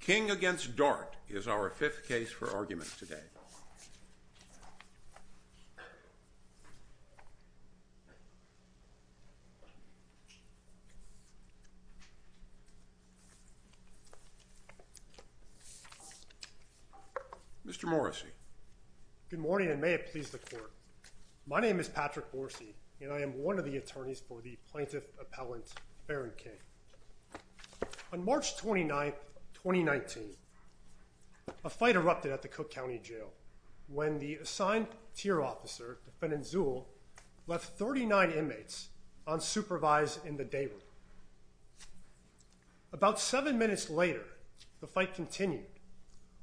King v. Dart is our fifth case for argument today. Mr. Morrissey. Good morning and may it please the Court. My name is Patrick Morrissey and I am one of the attorneys for the plaintiff appellant Barron King. On March 29, 2019, a fight erupted at the Cook County Jail when the assigned tier officer, defendant Zuhl, left 39 inmates unsupervised in the day room. About seven minutes later, the fight continued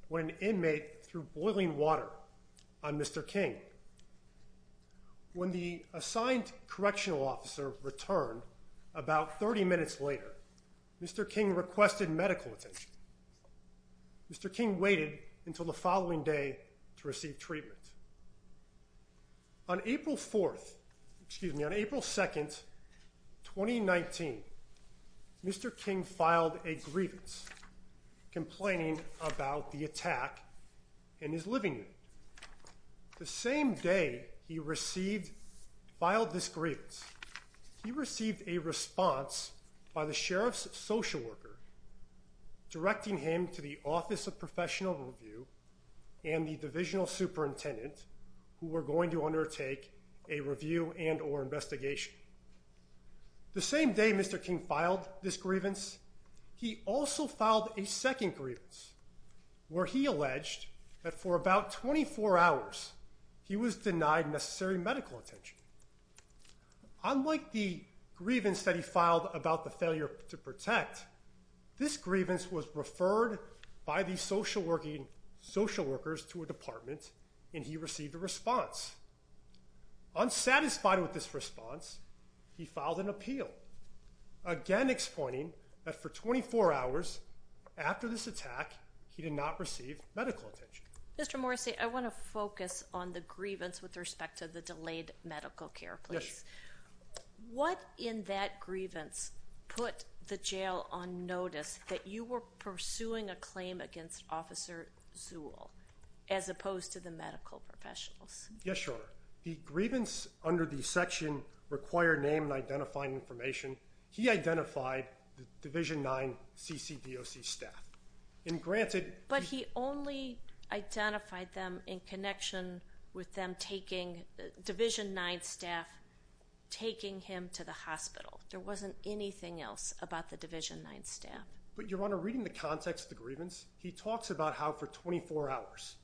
when an inmate threw boiling water on Mr. King. When the assigned correctional officer returned about 30 minutes later, Mr. King requested medical attention. Mr. King waited until the following day to receive treatment. On April 4, excuse me, on April 2, 2019, Mr. King filed a grievance complaining about the attack in his living room. The same day he received, filed this grievance, he received a response by the sheriff's social worker directing him to the Office of Professional Review and the divisional superintendent who were going to undertake a review and or investigation. The same day Mr. King filed this grievance, he also filed a second grievance where he alleged that for about 24 hours he was denied necessary medical attention. Unlike the grievance that he filed about the failure to protect, this grievance was referred by the social working social workers to a department and he received a response. Unsatisfied with this response, he filed an appeal, again explaining that for 24 hours after this attack, he did not receive medical attention. Mr. Morrissey, I want to focus on the grievance with respect to the delayed medical care, please. Yes. What in that grievance put the jail on notice that you were pursuing a claim against Officer Zuhl as opposed to the medical professionals? Yes, sure. The grievance under the section required name and identifying information. He identified the Division 9 CCDOC staff. But he only identified them in connection with them taking Division 9 staff taking him to the hospital. There wasn't anything else about the Division 9 staff. But Your Honor, reading the context of the grievance, he talks about how for 24 hours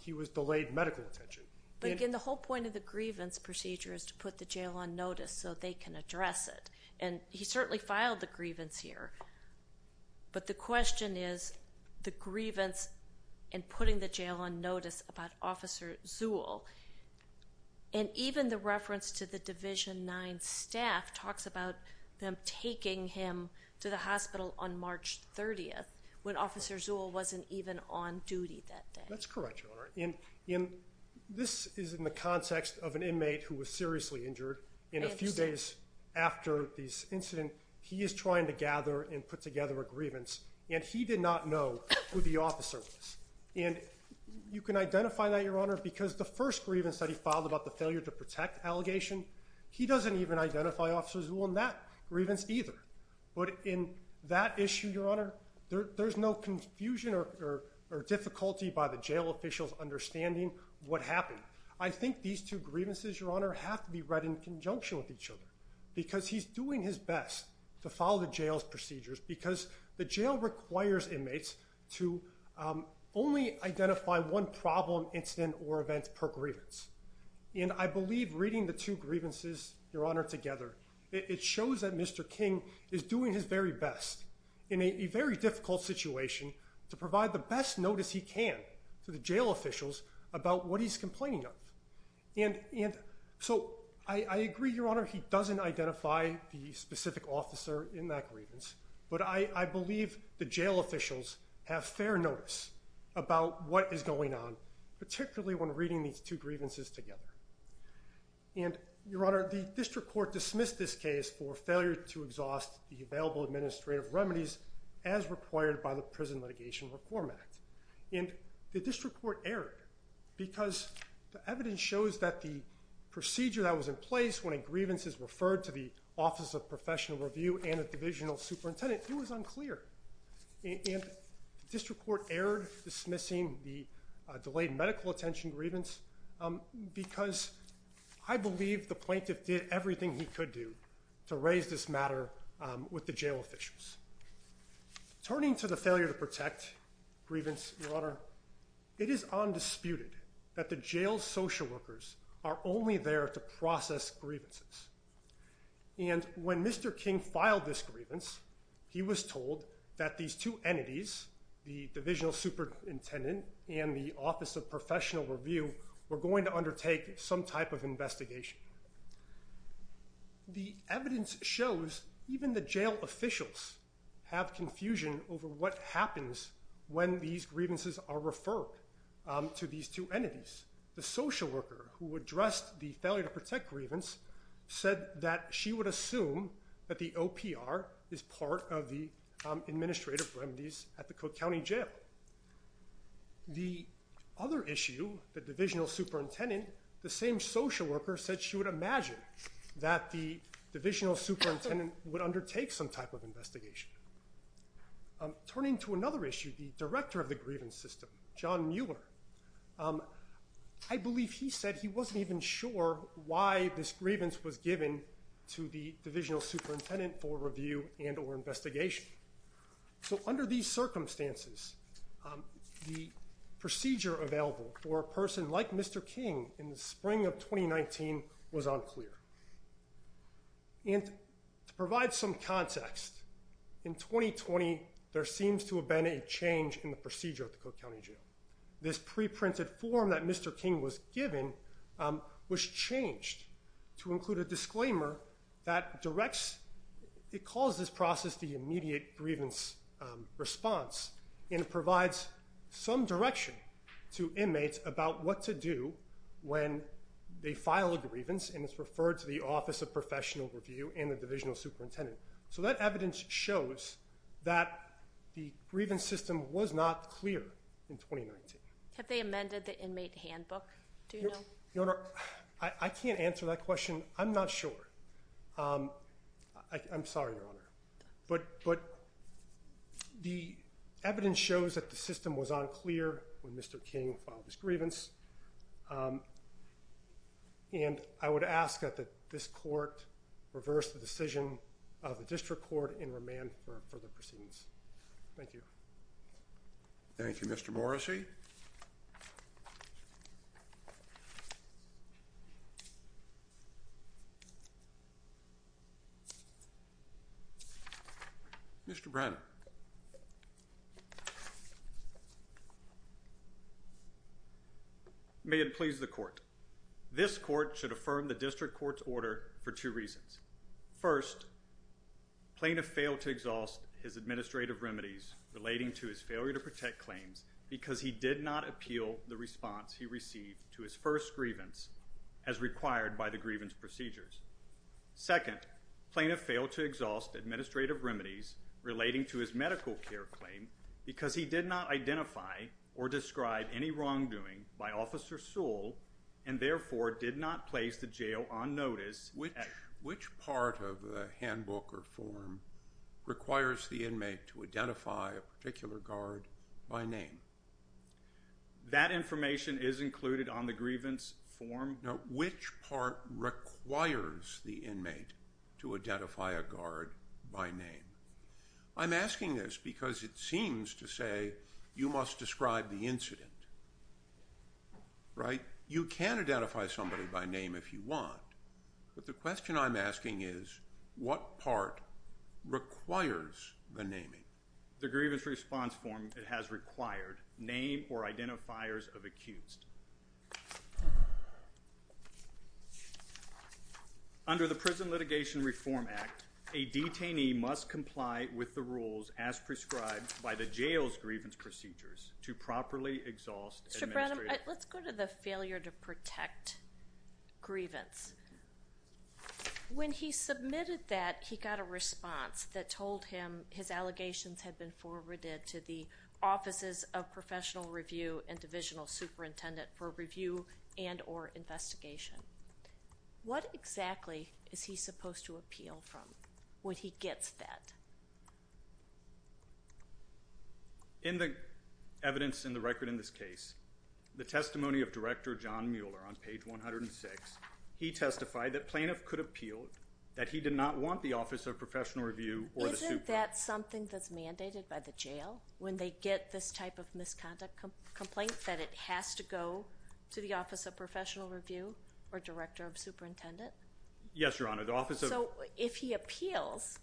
he was delayed medical attention. But again, the whole point of the grievance procedure is to put the jail on notice so they can address it. And he certainly filed the grievance here. But the question is the grievance and putting the jail on notice about Officer Zuhl. And even the reference to the Division 9 staff talks about them taking him to the hospital on March 30th when Officer Zuhl wasn't even on duty that day. That's correct, Your Honor. This is in the context of an inmate who was seriously injured. And a few days after this incident, he is trying to gather and put together a grievance. And he did not know who the officer was. And you can identify that, Your Honor, because the first grievance that he filed about the failure to protect allegation, he doesn't even identify Officer Zuhl in that grievance either. But in that issue, Your Honor, there's no confusion or difficulty by the jail officials understanding what happened. I think these two grievances, Your Honor, have to be read in conjunction with each other because he's doing his best to follow the jail's procedures because the jail requires inmates to only identify one problem, incident, or event per grievance. And I believe reading the two grievances, Your Honor, together, it shows that Mr. King is doing his very best in a very difficult situation to provide the best notice he can to the jail officials about what he's complaining of. And so I agree, Your Honor, he doesn't identify the specific officer in that grievance. But I believe the jail officials have fair notice about what is going on, particularly when reading these two grievances together. And, Your Honor, the district court dismissed this case for failure to exhaust the available administrative remedies as required by the Prison Litigation Reform Act. And the district court erred because the evidence shows that the procedure that was in place when a grievance is referred to the Office of Professional Review and a divisional superintendent, it was unclear. And the district court erred dismissing the delayed medical attention grievance because I believe the plaintiff did everything he could do to raise this matter with the jail officials. Turning to the failure to protect grievance, Your Honor, it is undisputed that the jail social workers are only there to process grievances. And when Mr. King filed this grievance, he was told that these two entities, the divisional superintendent and the Office of Professional Review, were going to undertake some type of investigation. The evidence shows even the jail officials have confusion over what happens when these grievances are referred to these two entities. The social worker who addressed the failure to protect grievance said that she would assume that the OPR is part of the administrative remedies at the Cook County Jail. The other issue, the divisional superintendent, the same social worker said she would imagine that the divisional superintendent would undertake some type of investigation. Turning to another issue, the director of the grievance system, John Mueller, I believe he said he wasn't even sure why this grievance was given to the divisional superintendent for review and or investigation. So under these circumstances, the procedure available for a person like Mr. King in the spring of 2019 was unclear. And to provide some context, in 2020, there seems to have been a change in the procedure at the Cook County Jail. This pre-printed form that Mr. King was given was changed to include a disclaimer that directs it calls this process the immediate grievance response. And it provides some direction to inmates about what to do when they file a grievance and it's referred to the Office of Professional Review and the divisional superintendent. So that evidence shows that the grievance system was not clear in 2019. Have they amended the inmate handbook? Do you know? Your Honor, I can't answer that question. I'm not sure. I'm sorry, Your Honor. But the evidence shows that the system was unclear when Mr. King filed his grievance. And I would ask that this court reverse the decision of the district court in remand for further proceedings. Thank you. Thank you, Mr. Morrissey. Mr. Brenner. May it please the court. This court should affirm the district court's order for two reasons. First, plaintiff failed to exhaust his administrative remedies relating to his failure to protect claims because he did not appeal the response he received to his first grievance as required by the grievance procedures. Second, plaintiff failed to exhaust administrative remedies relating to his medical care claim because he did not identify or describe any wrongdoing by Officer Sewell and therefore did not place the jail on notice. Which part of the handbook or form requires the inmate to identify a particular guard by name? That information is included on the grievance form. Now, which part requires the inmate to identify a guard by name? I'm asking this because it seems to say you must describe the incident. Right? You can identify somebody by name if you want. But the question I'm asking is what part requires the naming? The grievance response form has required name or identifiers of accused. Under the Prison Litigation Reform Act, a detainee must comply with the rules as prescribed by the jail's grievance procedures to properly exhaust administrative... Mr. Brenham, let's go to the failure to protect grievance. When he submitted that, he got a response that told him his allegations had been forwarded to the Offices of Professional Review and Divisional Superintendent for review and or investigation. What exactly is he supposed to appeal from when he gets that? In the evidence in the record in this case, the testimony of Director John Mueller on page 106, he testified that plaintiff could appeal that he did not want the Office of Professional Review or the Super... Isn't that something that's mandated by the jail when they get this type of misconduct complaint that it has to go to the Office of Professional Review or Director of Superintendent? Yes, Your Honor. The Office of... So if he appeals,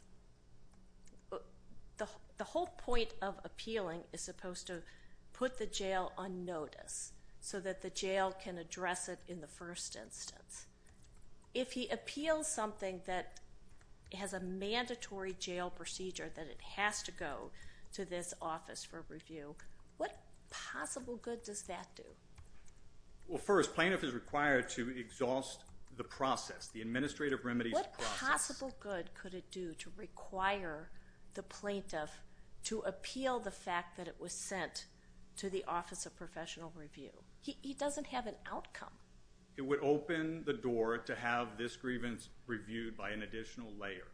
the whole point of appealing is supposed to put the jail on notice so that the jail can address it in the first instance. If he appeals something that has a mandatory jail procedure that it has to go to this office for review, what possible good does that do? Well, first, plaintiff is required to exhaust the process, the administrative remedies process. What possible good could it do to require the plaintiff to appeal the fact that it was sent to the Office of Professional Review? He doesn't have an outcome. It would open the door to have this grievance reviewed by an additional layer.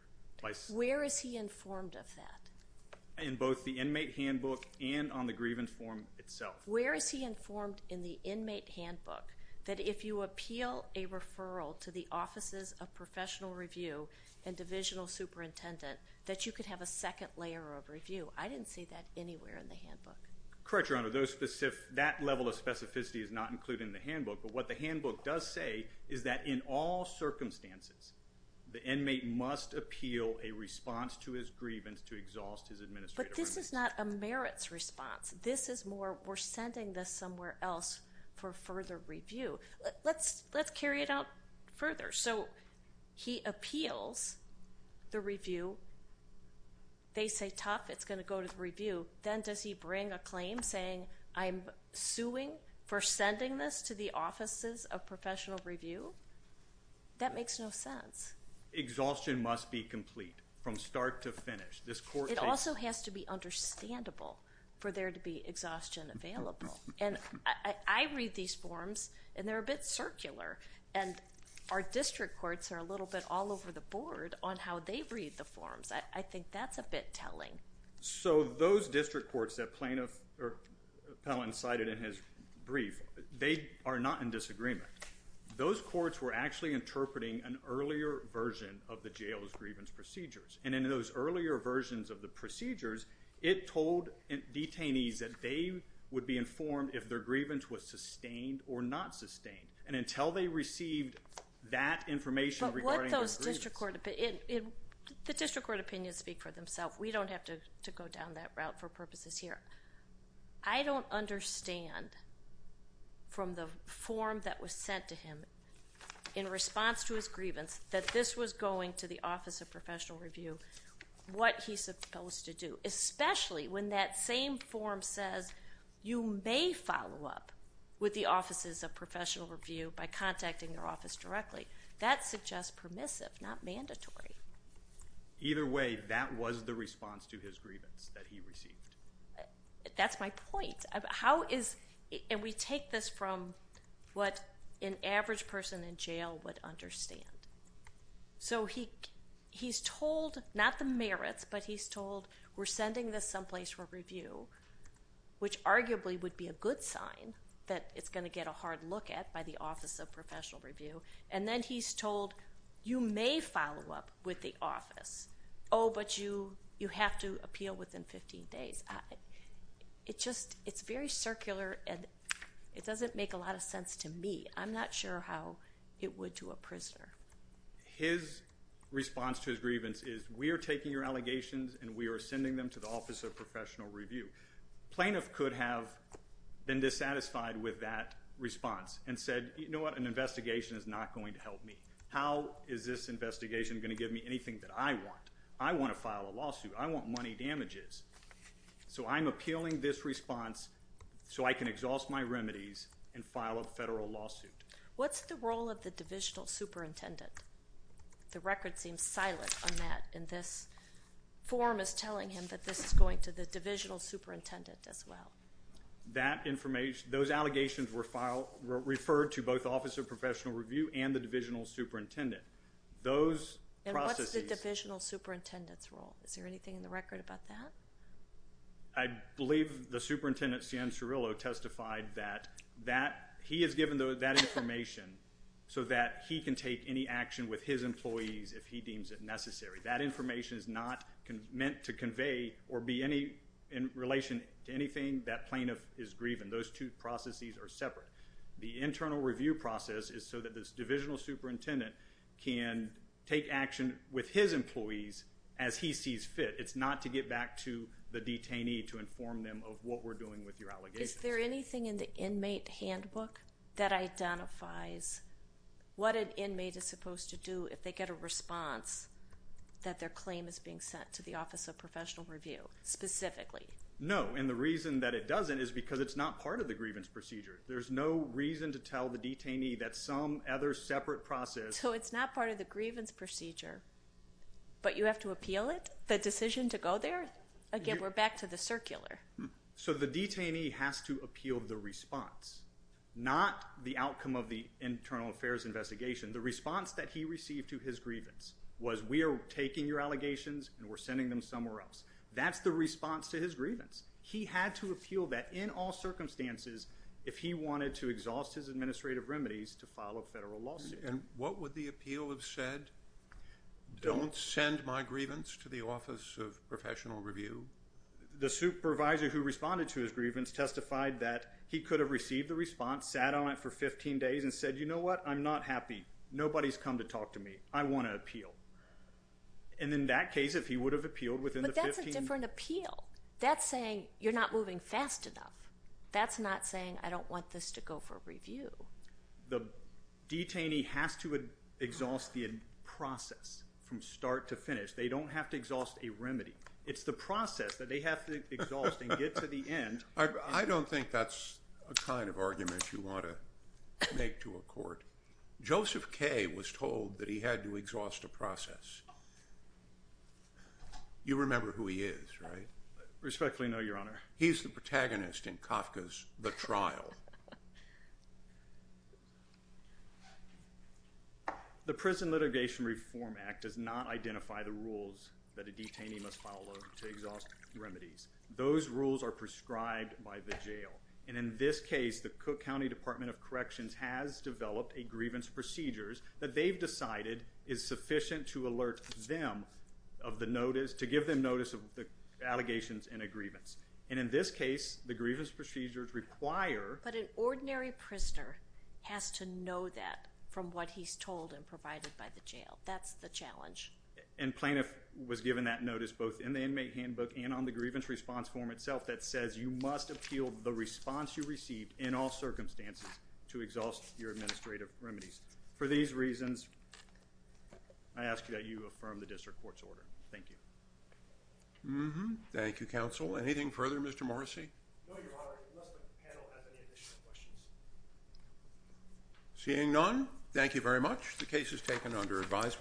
Where is he informed of that? In both the inmate handbook and on the grievance form itself. Where is he informed in the inmate handbook that if you appeal a referral to the Offices of Professional Review and Divisional Superintendent that you could have a second layer of review? I didn't see that anywhere in the handbook. Correct, Your Honor. That level of specificity is not included in the handbook. But what the handbook does say is that in all circumstances, the inmate must appeal a response to his grievance to exhaust his administrative remedies. But this is not a merits response. This is more we're sending this somewhere else for further review. Let's carry it out further. So he appeals the review. They say, tough, it's going to go to the review. Then does he bring a claim saying, I'm suing for sending this to the Offices of Professional Review? That makes no sense. Exhaustion must be complete from start to finish. It also has to be understandable for there to be exhaustion available. And I read these forms, and they're a bit circular. And our district courts are a little bit all over the board on how they read the forms. I think that's a bit telling. So those district courts that Plaintiff Pellin cited in his brief, they are not in disagreement. Those courts were actually interpreting an earlier version of the jail's grievance procedures. And in those earlier versions of the procedures, it told detainees that they would be informed if their grievance was sustained or not sustained. And until they received that information regarding their grievance. The district court opinions speak for themselves. We don't have to go down that route for purposes here. I don't understand from the form that was sent to him in response to his grievance that this was going to the Office of Professional Review what he's supposed to do. Especially when that same form says you may follow up with the Offices of Professional Review by contacting their office directly. That suggests permissive, not mandatory. Either way, that was the response to his grievance that he received. That's my point. And we take this from what an average person in jail would understand. So he's told not the merits, but he's told we're sending this someplace for review. Which arguably would be a good sign that it's going to get a hard look at by the Office of Professional Review. And then he's told you may follow up with the office. Oh, but you have to appeal within 15 days. It's very circular and it doesn't make a lot of sense to me. I'm not sure how it would to a prisoner. His response to his grievance is we are taking your allegations and we are sending them to the Office of Professional Review. Plaintiff could have been dissatisfied with that response and said, you know what, an investigation is not going to help me. How is this investigation going to give me anything that I want? I want to file a lawsuit. I want money damages. So I'm appealing this response so I can exhaust my remedies and file a federal lawsuit. What's the role of the divisional superintendent? The record seems silent on that. And this form is telling him that this is going to the divisional superintendent as well. That information, those allegations were filed, referred to both Office of Professional Review and the divisional superintendent. Those processes. And what's the divisional superintendent's role? Is there anything in the record about that? I believe the superintendent, Stan Cirillo, testified that that he has given that information so that he can take any action with his employees if he deems it necessary. That information is not meant to convey or be any in relation to anything that plaintiff is grieving. Those two processes are separate. The internal review process is so that this divisional superintendent can take action with his employees as he sees fit. It's not to get back to the detainee to inform them of what we're doing with your allegations. Is there anything in the inmate handbook that identifies what an inmate is supposed to do if they get a response that their claim is being sent to the Office of Professional Review specifically? No, and the reason that it doesn't is because it's not part of the grievance procedure. There's no reason to tell the detainee that some other separate process. So it's not part of the grievance procedure, but you have to appeal it? The decision to go there? Again, we're back to the circular. So the detainee has to appeal the response, not the outcome of the internal affairs investigation. The response that he received to his grievance was we are taking your allegations and we're sending them somewhere else. That's the response to his grievance. He had to appeal that in all circumstances if he wanted to exhaust his administrative remedies to file a federal lawsuit. And what would the appeal have said? Don't send my grievance to the Office of Professional Review. The supervisor who responded to his grievance testified that he could have received the response, sat on it for 15 days, and said, you know what? I'm not happy. Nobody's come to talk to me. I want to appeal. And in that case, if he would have appealed within the 15 days— But that's a different appeal. That's saying you're not moving fast enough. That's not saying I don't want this to go for review. The detainee has to exhaust the process from start to finish. They don't have to exhaust a remedy. It's the process that they have to exhaust and get to the end. I don't think that's the kind of argument you want to make to a court. Joseph Kaye was told that he had to exhaust a process. You remember who he is, right? Respectfully, no, Your Honor. He's the protagonist in Kafka's The Trial. The Prison Litigation Reform Act does not identify the rules that a detainee must follow to exhaust remedies. Those rules are prescribed by the jail. And in this case, the Cook County Department of Corrections has developed a grievance procedures that they've decided is sufficient to alert them of the notice—to give them notice of the allegations in a grievance. And in this case, the grievance procedures require— But an ordinary prisoner has to know that from what he's told and provided by the jail. That's the challenge. And plaintiff was given that notice both in the inmate handbook and on the grievance response form itself that says you must appeal the response you received in all circumstances to exhaust your administrative remedies. For these reasons, I ask that you affirm the district court's order. Thank you. Thank you, counsel. Anything further, Mr. Morrissey? No, Your Honor, unless the panel has any additional questions. Seeing none, thank you very much. The case is taken under advisement.